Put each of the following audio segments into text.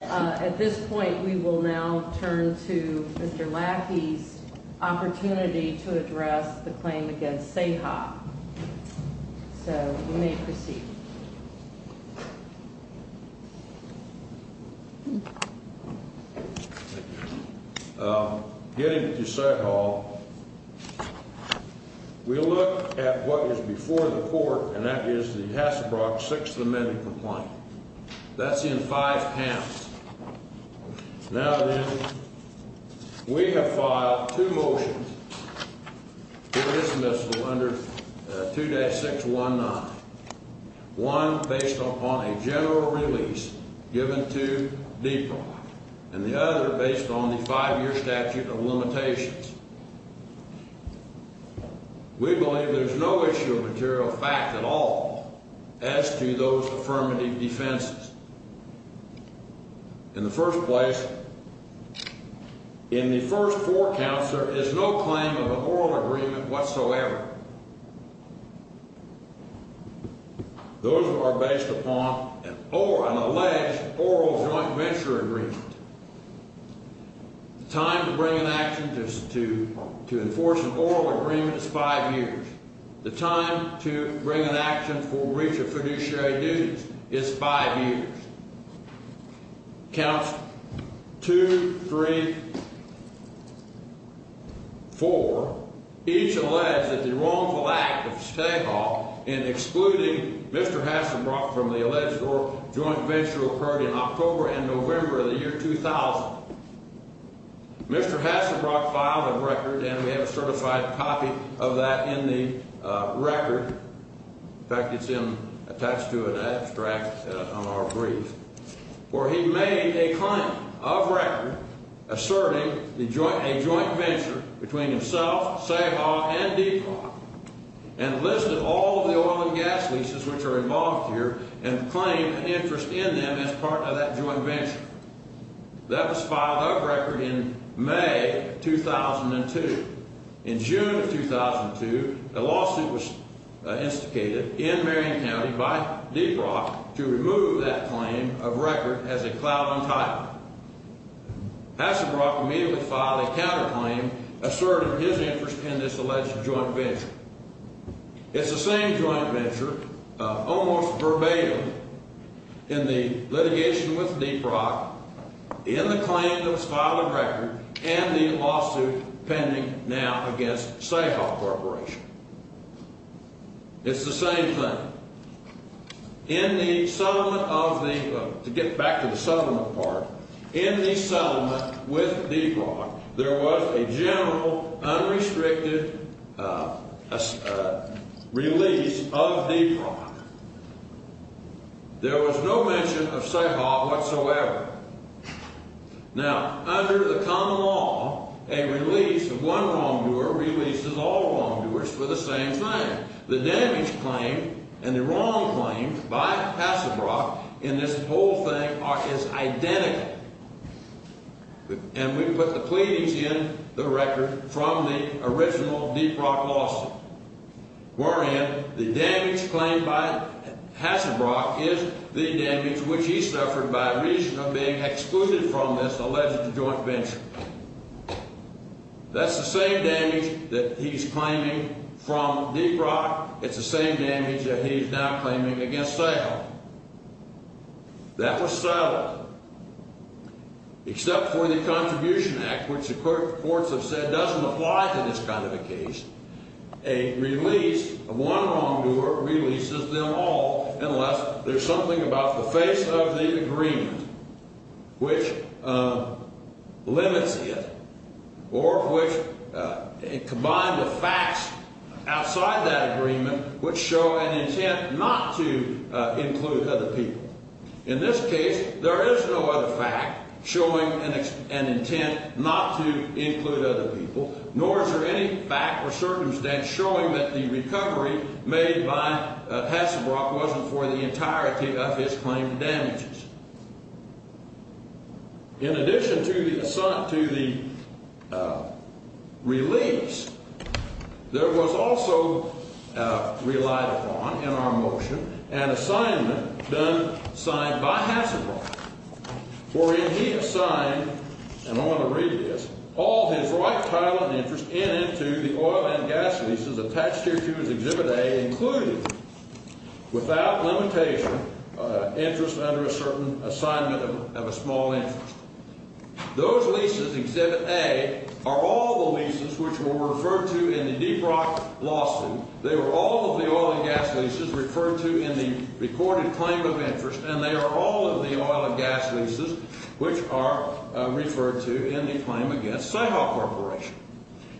At this point, we will now turn to Mr. Lackey's opportunity to address the claim against Ceja. So, you may proceed. Getting to Ceja, we look at what was before the court, and that is the Hassebrock sixth amendment complaint. That's in five camps. Now then, we have filed two motions for dismissal under 2-619. One based upon a general release given to DPROC, and the other based on the five-year statute of limitations. We believe there's no issue of material fact at all as to those affirmative defenses. In the first place, in the first four counts, there is no claim of an oral agreement whatsoever. Those are based upon an alleged oral joint venture agreement. The time to bring an action to enforce an oral agreement is five years. The time to bring an action for breach of fiduciary duties is five years. Counts 2, 3, 4 each allege that the wrongful act of Ceja in excluding Mr. Hassebrock from the alleged oral joint venture occurred in October and November of the year 2000. Mr. Hassebrock filed a record, and we have a certified copy of that in the record. In fact, it's attached to an abstract on our brief, where he made a claim of record asserting a joint venture between himself, Ceja, and DPROC, and listed all the oil and gas leases which are involved here and claimed an interest in them as part of that joint venture. That was filed of record in May of 2002. In June of 2002, a lawsuit was instigated in Marion County by DPROC to remove that claim of record as a cloud on title. Hassebrock immediately filed a counterclaim asserting his interest in this alleged joint venture. It's the same joint venture, almost verbatim, in the litigation with DPROC, in the claim that was filed of record, and the lawsuit pending now against Ceja Corporation. It's the same thing. To get back to the settlement part, in the settlement with DPROC, there was a general unrestricted release of DPROC. There was no mention of Ceja whatsoever. Now, under the common law, a release of one wrongdoer releases all wrongdoers for the same thing. The damage claimed and the wrong claims by Hassebrock in this whole thing is identical. And we put the pleadings in the record from the original DPROC lawsuit, wherein the damage claimed by Hassebrock is the damage which he suffered by reason of being excluded from this alleged joint venture. That's the same damage that he's claiming from DPROC. It's the same damage that he's now claiming against Ceja. That was settled. Except for the Contribution Act, which the courts have said doesn't apply to this kind of a case, a release of one wrongdoer releases them all unless there's something about the face of the agreement which limits it or which combines the facts outside that agreement which show an intent not to include other people. In this case, there is no other fact showing an intent not to include other people, nor is there any fact or circumstance showing that the recovery made by Hassebrock wasn't for the entirety of his claimed damages. In addition to the release, there was also relied upon in our motion an assignment done, signed by Hassebrock, wherein he assigned, and I want to read this, all his right, title, and interest in and to the oil and gas leases attached here to his Exhibit A, including, without limitation, interest under a certain assignment of a small interest. Those leases, Exhibit A, are all the leases which were referred to in the DPROC lawsuit. They were all of the oil and gas leases referred to in the recorded claim of interest, and they are all of the oil and gas leases which are referred to in the claim against Sahel Corporation.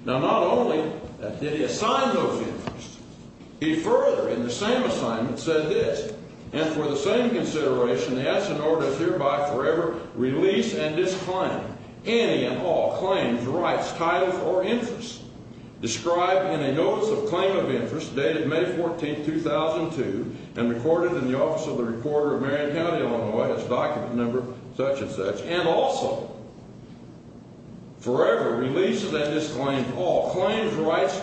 Now, not only did he assign those interests, he further, in the same assignment, said this, and for the same consideration, the act's in order to thereby forever release and disclaim any and all claims, rights, titles, or interests described in a notice of claim of interest dated May 14, 2002, and recorded in the office of the recorder of Marion County, Illinois, as document number such and such, and also forever releases and disclaims all claims, rights,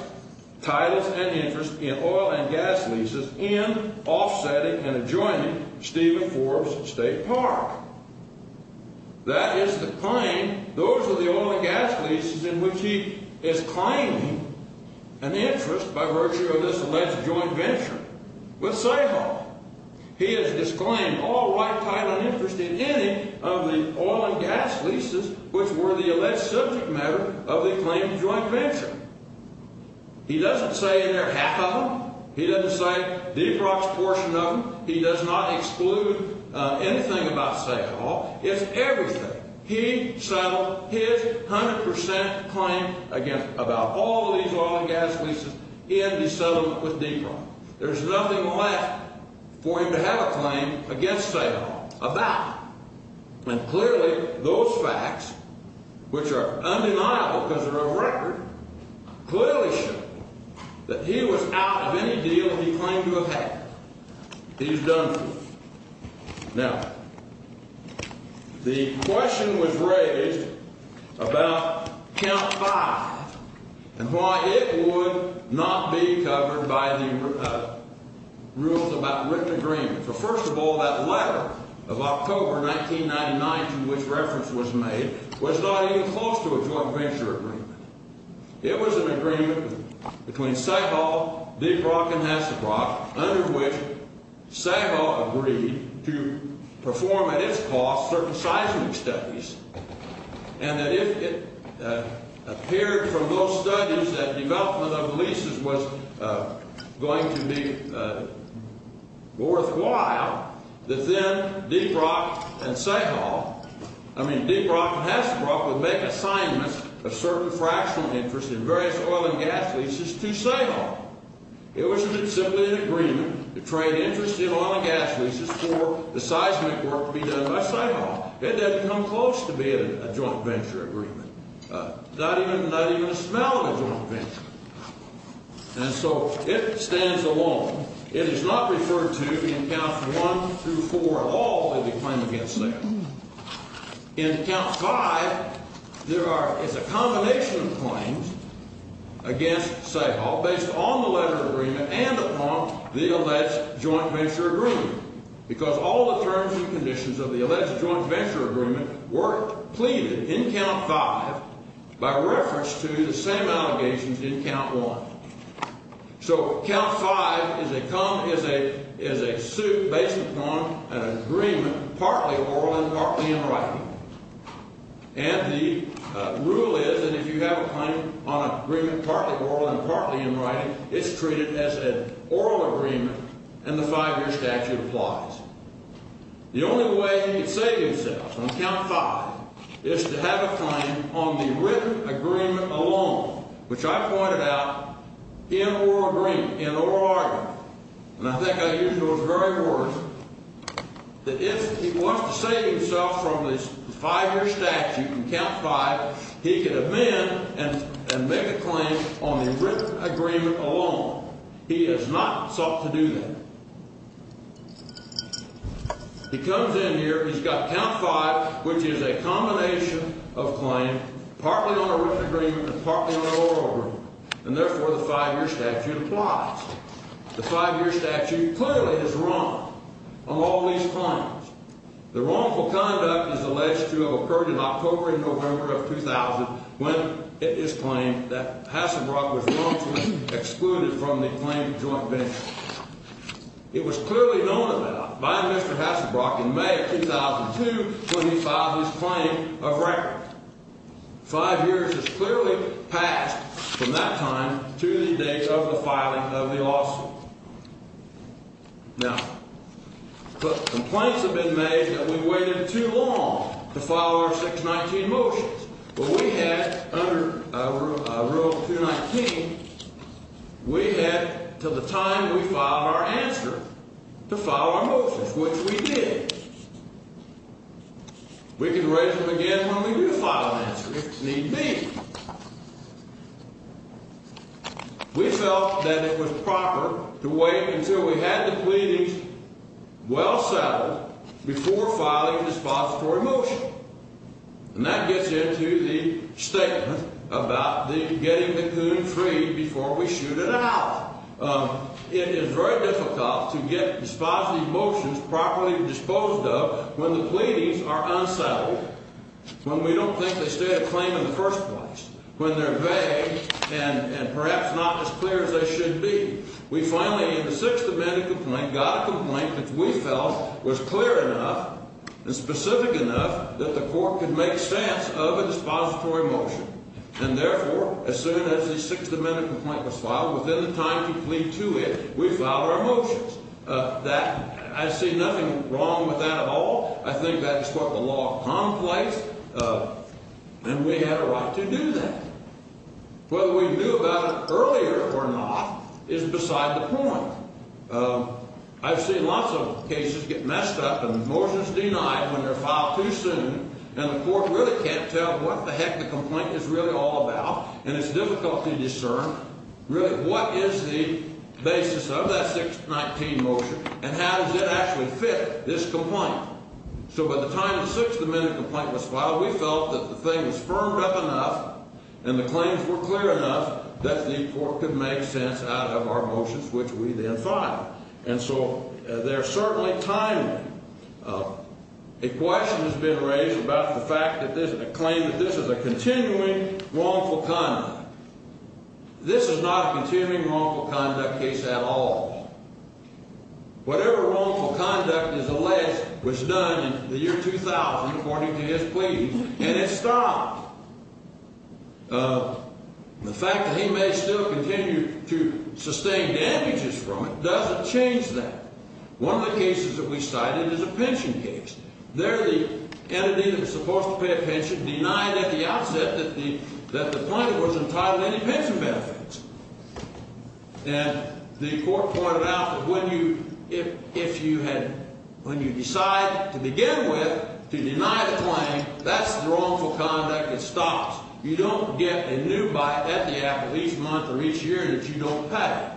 titles, and interests in oil and gas leases in offsetting and adjoining Stephen Forbes State Park. That is to claim those are the oil and gas leases in which he is claiming an interest by virtue of this alleged joint venture with Sahel. He has disclaimed all right, title, and interest in any of the oil and gas leases which were the alleged subject matter of the claimed joint venture. He doesn't say in there half of them. He doesn't say DPROC's portion of them. He does not exclude anything about Sahel. It's everything. He settled his 100% claim against about all of these oil and gas leases in the settlement with DPROC. There's nothing left for him to have a claim against Sahel about. And clearly, those facts, which are undeniable because they're a record, clearly show that he was out of any deal he claimed to have had. He's done for. Now, the question was raised about Count 5 and why it would not be covered by the rules about written agreements. Well, first of all, that letter of October 1999 to which reference was made was not even close to a joint venture agreement. It was an agreement between Sahel, DPROC, and Hesselbrock under which Sahel agreed to perform at its cost certain seismic studies and that if it appeared from those studies that development of the leases was going to be worthwhile, that then DPROC and Sahel, I mean, DPROC and Hesselbrock would make assignments of certain fractional interest in various oil and gas leases to Sahel. It was simply an agreement to trade interest in oil and gas leases for the seismic work to be done by Sahel. It doesn't come close to being a joint venture agreement. Not even a smell of a joint venture. And so it stands alone. It is not referred to in Counts 1 through 4 at all as a claim against Sahel. In Count 5, there is a combination of claims against Sahel based on the letter of agreement and upon the alleged joint venture agreement because all the terms and conditions of the alleged joint venture agreement were pleaded in Count 5 by reference to the same allegations in Count 1. So Count 5 is a suit based upon an agreement partly oral and partly in writing. And the rule is that if you have a claim on an agreement partly oral and partly in writing, it's treated as an oral agreement and the five-year statute applies. The only way he could save himself on Count 5 is to have a claim on the written agreement alone, which I pointed out, in oral agreement, in oral argument. And I think I used those very words. That if he wants to save himself from the five-year statute in Count 5, he could amend and make a claim on the written agreement alone. He has not sought to do that. He comes in here. He's got Count 5, which is a combination of claim partly on a written agreement and partly on an oral agreement. And therefore, the five-year statute applies. The five-year statute clearly is wrong on all these claims. The wrongful conduct is alleged to have occurred in October and November of 2000 when it is claimed that Hasselbrock was wrongfully excluded from the claimed joint venture. It was clearly known about by Mr. Hasselbrock in May of 2002 when he filed his claim of record. Five years has clearly passed from that time to the date of the filing of the lawsuit. Now, complaints have been made that we waited too long to file our 619 motions. But we had, under Rule 219, we had until the time we filed our answer to file our motions, which we did. We can raise them again when we do file an answer, if need be. We felt that it was proper to wait until we had the pleadings well settled before filing a dispository motion. And that gets into the statement about the getting the coon free before we shoot it out. It is very difficult to get dispositive motions properly disposed of when the pleadings are unsettled, when we don't think they state a claim in the first place, when they're vague and perhaps not as clear as they should be. We finally, in the Sixth Amendment complaint, got a complaint that we felt was clear enough and specific enough that the court could make sense of a dispository motion. And therefore, as soon as the Sixth Amendment complaint was filed, within the time to plead to it, we filed our motions. I see nothing wrong with that at all. I think that is what the law of commonplace, and we had a right to do that. Whether we knew about it earlier or not is beside the point. I've seen lots of cases get messed up and motions denied when they're filed too soon, and the court really can't tell what the heck the complaint is really all about. And it's difficult to discern, really, what is the basis of that 619 motion, and how does it actually fit this complaint? So by the time the Sixth Amendment complaint was filed, we felt that the thing was firmed up enough and the claims were clear enough that the court could make sense out of our motions, which we then filed. And so they're certainly timely. A question has been raised about the fact that there's a claim that this is a continuing wrongful conduct. This is not a continuing wrongful conduct case at all. Whatever wrongful conduct is alleged was done in the year 2000, according to his pleadings, and it stopped. The fact that he may still continue to sustain damages from it doesn't change that. One of the cases that we cited is a pension case. There the entity that was supposed to pay a pension denied at the outset that the plaintiff was entitled to any pension benefits. And the court pointed out that when you decide to begin with to deny the claim, that's wrongful conduct. It stops. You don't get a new bite at the end of each month or each year that you don't pay.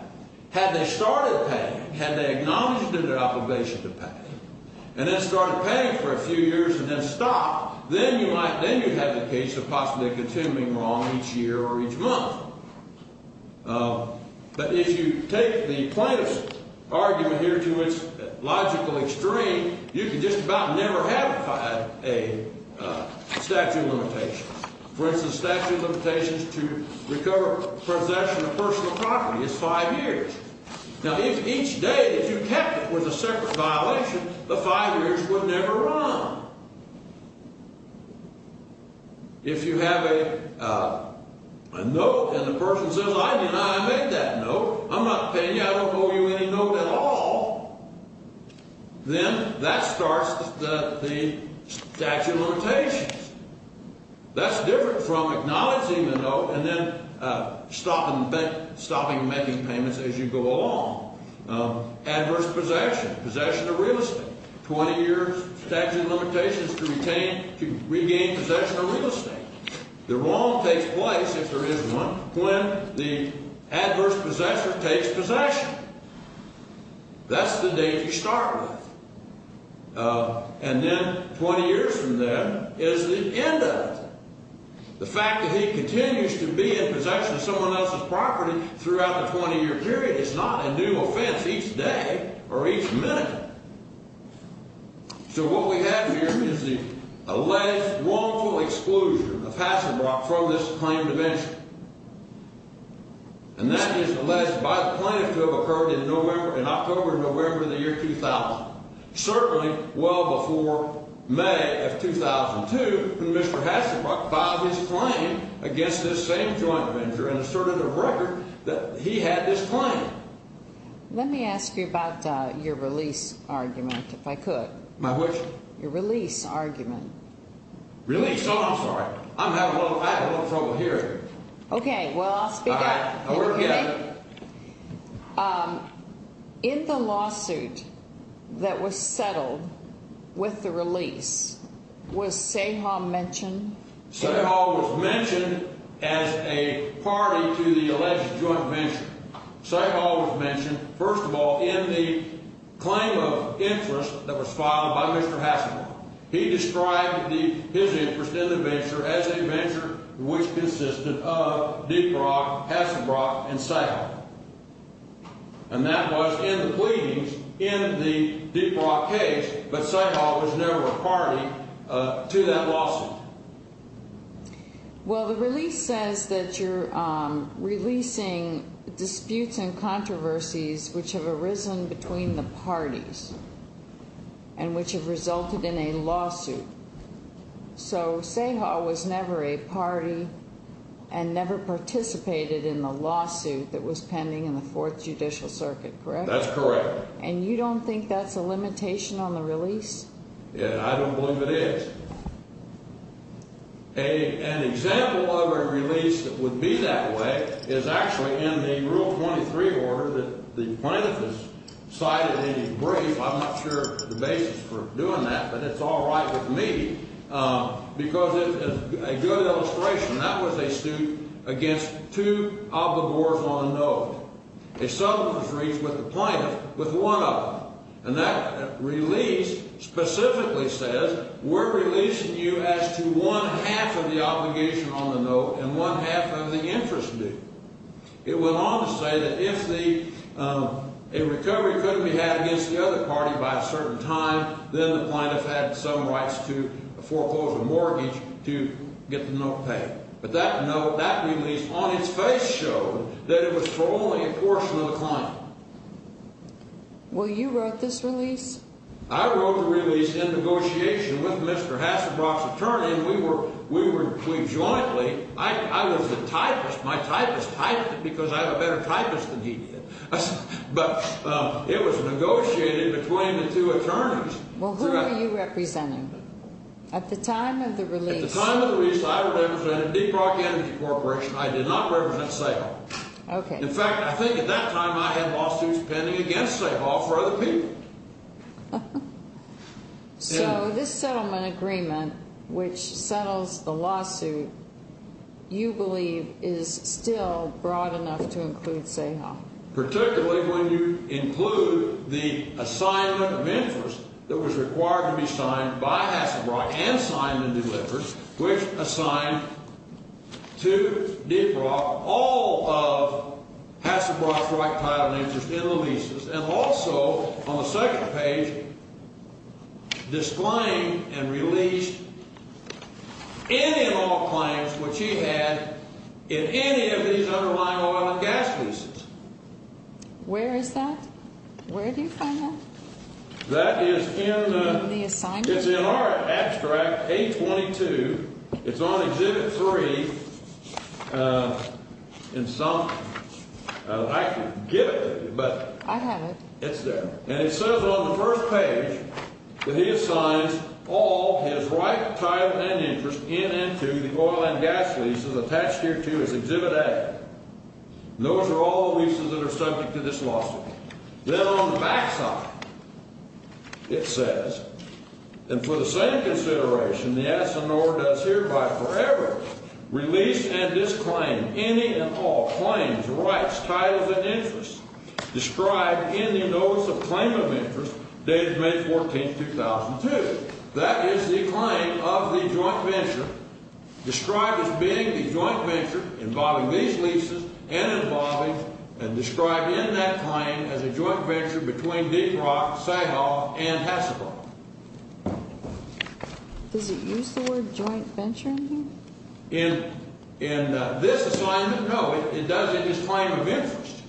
Had they started paying, had they acknowledged their obligation to pay, and then started paying for a few years and then stopped, then you'd have the case of possibly a continuing wrong each year or each month. But if you take the plaintiff's argument here to its logical extreme, you could just about never have a statute of limitations. For instance, statute of limitations to recover possession of personal property is five years. Now, if each day that you kept it was a separate violation, the five years would never run. If you have a note and the person says, I deny I made that note, I'm not paying you, I don't owe you any note at all, then that starts the statute of limitations. That's different from acknowledging the note and then stopping making payments as you go along. Adverse possession, possession of real estate, 20 years statute of limitations to retain, to regain possession of real estate. The wrong takes place, if there is one, when the adverse possessor takes possession. That's the date you start with. And then 20 years from then is the end of it. The fact that he continues to be in possession of someone else's property throughout the 20-year period is not a new offense each day or each minute. So what we have here is the alleged wrongful exclusion of Hasselbrock from this claim to venture. And that is alleged by the plaintiff to have occurred in October and November of the year 2000. Certainly well before May of 2002 when Mr. Hasselbrock filed his claim against this same joint venture and asserted a record that he had this claim. Let me ask you about your release argument, if I could. My which? Your release argument. Release? Oh, I'm sorry. I'm having a little trouble hearing. Okay, well, I'll speak up. All right, I'll work it out. In the lawsuit that was settled with the release, was Sahal mentioned? Sahal was mentioned as a party to the alleged joint venture. Sahal was mentioned, first of all, in the claim of interest that was filed by Mr. Hasselbrock. He described his interest in the venture as a venture which consisted of Deep Rock, Hasselbrock, and Sahal. And that was in the pleadings in the Deep Rock case, but Sahal was never a party to that lawsuit. Well, the release says that you're releasing disputes and controversies which have arisen between the parties and which have resulted in a lawsuit. So Sahal was never a party and never participated in the lawsuit that was pending in the Fourth Judicial Circuit, correct? That's correct. And you don't think that's a limitation on the release? I don't believe it is. An example of a release that would be that way is actually in the Rule 23 order that the plaintiff has cited in his brief. I'm not sure the basis for doing that, but it's all right with me because it's a good illustration. That was a suit against two obligors on note. A settlement was reached with the plaintiff with one of them, and that release specifically says we're releasing you as to one-half of the obligation on the note and one-half of the interest due. It went on to say that if a recovery couldn't be had against the other party by a certain time, then the plaintiff had some rights to a foreclosure mortgage to get the note paid. But that note, that release, on its face showed that it was for only a portion of the client. Well, you wrote this release? I wrote the release in negotiation with Mr. Hasselbrock's attorney, and we were jointly – I was a typist. My typist typed it because I have a better typist than he did. But it was negotiated between the two attorneys. Well, who are you representing? At the time of the release – I did not represent Sahal. Okay. In fact, I think at that time I had lawsuits pending against Sahal for other people. So this settlement agreement, which settles the lawsuit, you believe is still broad enough to include Sahal? Particularly when you include the assignment of interest that was required to be signed by Hasselbrock and signed and delivered, which assigned to DeBrock all of Hasselbrock's right title and interest in the leases, and also on the second page, displaying and released any and all claims which he had in any of these underlying oil and gas leases. Where is that? Where do you find that? That is in the – In the assignment? It's in our abstract, A-22. It's on Exhibit 3 in some – I could give it to you, but – I have it. It's there. And it says on the first page that he assigns all his right title and interest in and to the oil and gas leases attached here to his Exhibit A. Those are all leases that are subject to this lawsuit. Then on the back side, it says, and for the same consideration, the S&R does hereby forever release and disclaim any and all claims, rights, titles, and interests described in the Notice of Claim of Interest dated May 14, 2002. That is the claim of the joint venture, described as being the joint venture involving these leases and involving – and described in that claim as a joint venture between Deep Rock, Sahal, and Hassebrock. Does it use the word joint venture in here? In this assignment, no. It does it as claim of interest.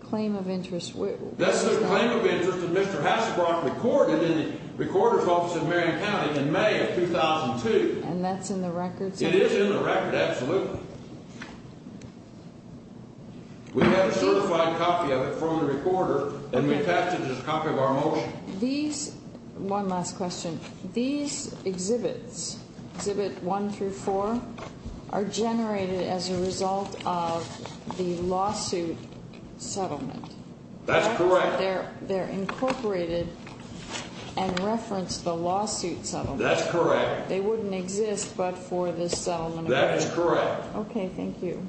Claim of interest. That's the claim of interest that Mr. Hassebrock recorded in the recorder's office in Marion County in May of 2002. And that's in the record? It is in the record, absolutely. We have a certified copy of it from the recorder, and we pass it as a copy of our motion. One last question. These exhibits, Exhibit 1 through 4, are generated as a result of the lawsuit settlement. That's correct. They're incorporated and referenced the lawsuit settlement. That's correct. They wouldn't exist but for this settlement agreement. That is correct. Okay, thank you.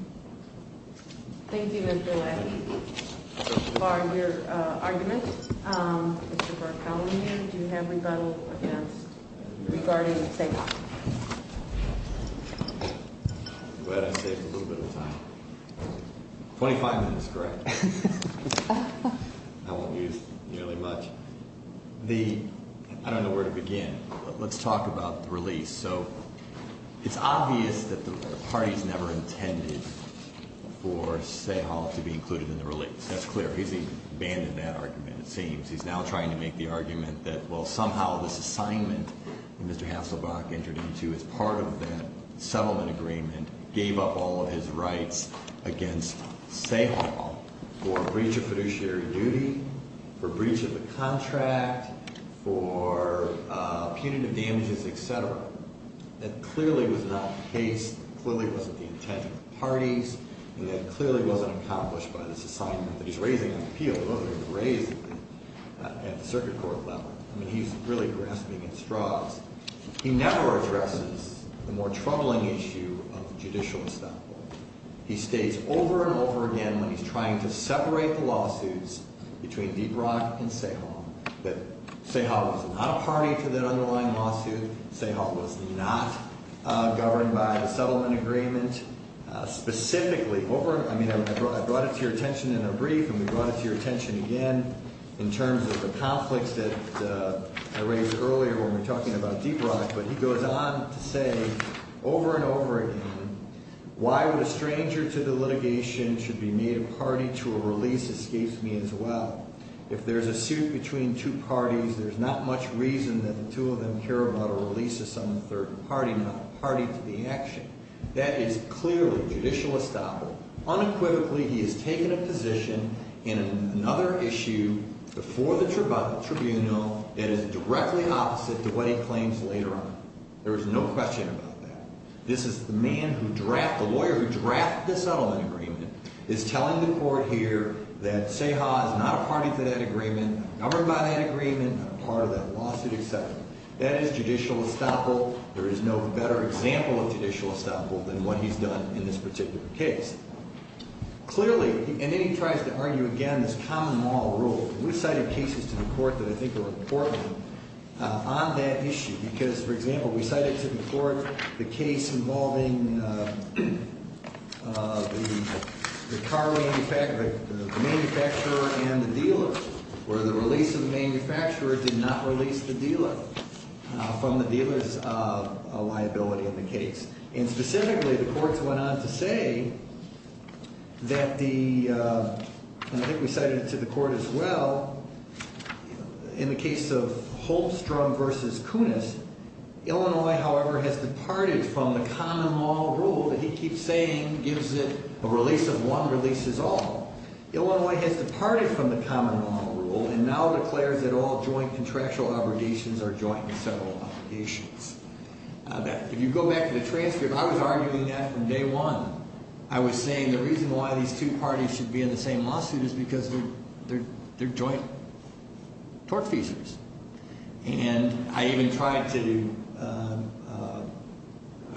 Thank you, Mr. Leahy, for your argument. Mr. Berkowitz, do you have rebuttal against regarding Sahal? I'm glad I saved a little bit of time. Twenty-five minutes, correct? I won't use nearly much. I don't know where to begin, but let's talk about the release. It's obvious that the parties never intended for Sahal to be included in the release. That's clear. He's abandoned that argument, it seems. He's now trying to make the argument that, well, somehow this assignment that Mr. Hassebrock entered into as part of the settlement agreement gave up all of his rights against Sahal for breach of fiduciary duty, for breach of the contract, for punitive damages, etc. That clearly was not the case. Clearly, it wasn't the intent of the parties. And that clearly wasn't accomplished by this assignment that he's raising on appeal. It wasn't even raised at the circuit court level. I mean, he's really grasping at straws. He never addresses the more troubling issue of judicial establishment. He states over and over again when he's trying to separate the lawsuits between Deitrog and Sahal that Sahal was not a party to that underlying lawsuit. Sahal was not governed by the settlement agreement. Specifically, I mean, I brought it to your attention in a brief and we brought it to your attention again in terms of the conflicts that I raised earlier when we were talking about Deep Rock, but he goes on to say over and over again, why would a stranger to the litigation should be made a party to a release escapes me as well? If there's a suit between two parties, there's not much reason that the two of them care about a release of some third party, not a party to the action. That is clearly judicial estoppel. Unequivocally, he has taken a position in another issue before the tribunal that is directly opposite to what he claims later on. There is no question about that. This is the man who drafts, the lawyer who drafts the settlement agreement, is telling the court here that Sahal is not a party to that agreement, governed by that agreement, not a part of that lawsuit, etc. That is judicial estoppel. There is no better example of judicial estoppel than what he's done in this particular case. Clearly, and then he tries to argue again this common law rule. We cited cases to the court that I think are important on that issue because, for example, we cited to the court the case involving the manufacturer and the dealer where the release of the manufacturer did not release the dealer from the dealer's liability in the case. Specifically, the courts went on to say that the, and I think we cited it to the court as well, in the case of Holmstrom v. Kunis, Illinois, however, has departed from the common law rule that he keeps saying gives it a release of one releases all. Illinois has departed from the common law rule and now declares that all joint contractual obligations are joint and several obligations. If you go back to the transcript, I was arguing that from day one. I was saying the reason why these two parties should be in the same lawsuit is because they're joint tortfeasors. And I even tried to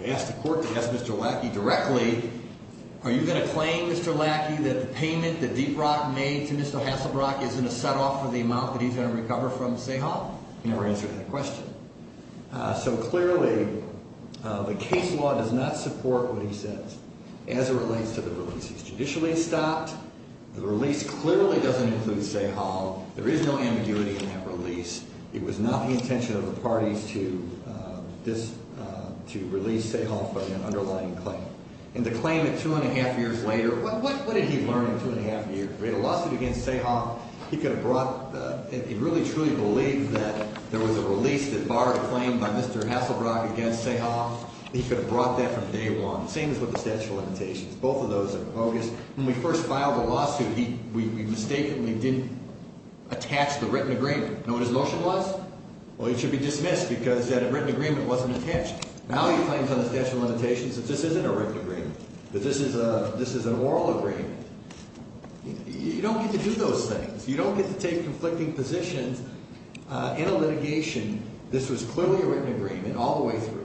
ask the court to ask Mr. Lackey directly, are you going to claim, Mr. Lackey, that the payment that Deep Rock made to Mr. Hasselbrock is going to set off for the amount that he's going to recover from Seahawks? He never answered that question. So clearly, the case law does not support what he says as it relates to the release. It's judicially stopped. The release clearly doesn't include Seahawks. There is no ambiguity in that release. It was not the intention of the parties to release Seahawks but an underlying claim. And the claim that two and a half years later, what did he learn in two and a half years? If he had a lawsuit against Seahawks, he could have brought, he really truly believed that there was a release that barred a claim by Mr. Hasselbrock against Seahawks. He could have brought that from day one. Same as with the statute of limitations. Both of those are bogus. When we first filed the lawsuit, we mistakenly didn't attach the written agreement. Know what his motion was? Well, it should be dismissed because that written agreement wasn't attached. Now he claims on the statute of limitations that this isn't a written agreement, that this is an oral agreement. You don't get to do those things. You don't get to take conflicting positions in a litigation. This was clearly a written agreement all the way through.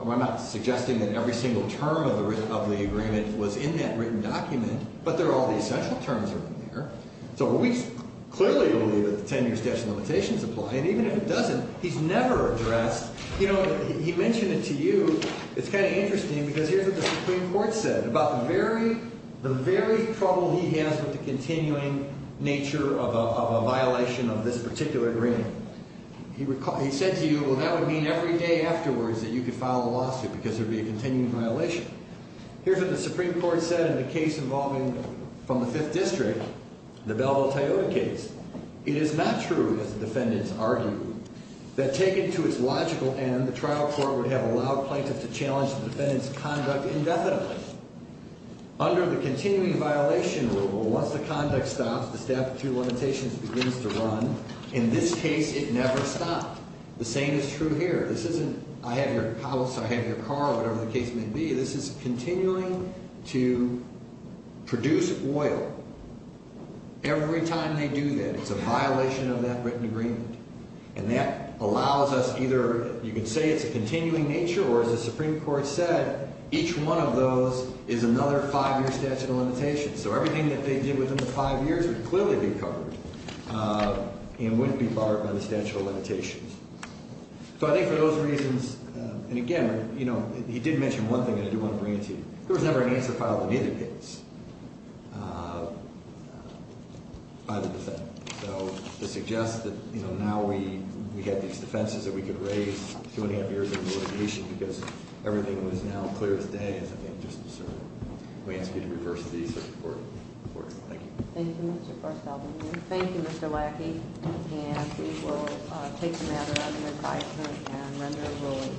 I'm not suggesting that every single term of the agreement was in that written document, but there are all the essential terms in there. So we clearly believe that the 10-year statute of limitations apply, and even if it doesn't, he's never addressed, you know, he mentioned it to you, it's kind of interesting because here's what the Supreme Court said about the very trouble he has with the continuing nature of a violation of this particular agreement. He said to you, well, that would mean every day afterwards that you could file a lawsuit because there would be a continuing violation. Here's what the Supreme Court said in the case involving, from the Fifth District, the Belleville-Toyota case. It is not true, as the defendants argued, that taken to its logical end, the trial court would have allowed plaintiffs to challenge the defendant's conduct indefinitely. Under the continuing violation rule, once the conduct stops, the statute of limitations begins to run. In this case, it never stopped. The same is true here. This isn't, I have your house, I have your car, whatever the case may be. This is continuing to produce oil. Every time they do that, it's a violation of that written agreement, and that allows us either, you could say it's a continuing nature, or as the Supreme Court said, each one of those is another five-year statute of limitations. So everything that they did within the five years would clearly be covered and wouldn't be barred by the statute of limitations. So I think for those reasons, and again, you know, he did mention one thing that I do want to bring it to you. There was never an answer filed in either case by the defendant. So this suggests that, you know, now we have these defenses that we could raise two-and-a-half years of litigation because everything was now clear as day. I think it's just absurd. We ask you to reverse these reports. Thank you. Thank you, Mr. Bartholomew. Thank you, Mr. Lackey. And we will take the matter under advisement and render it ruling.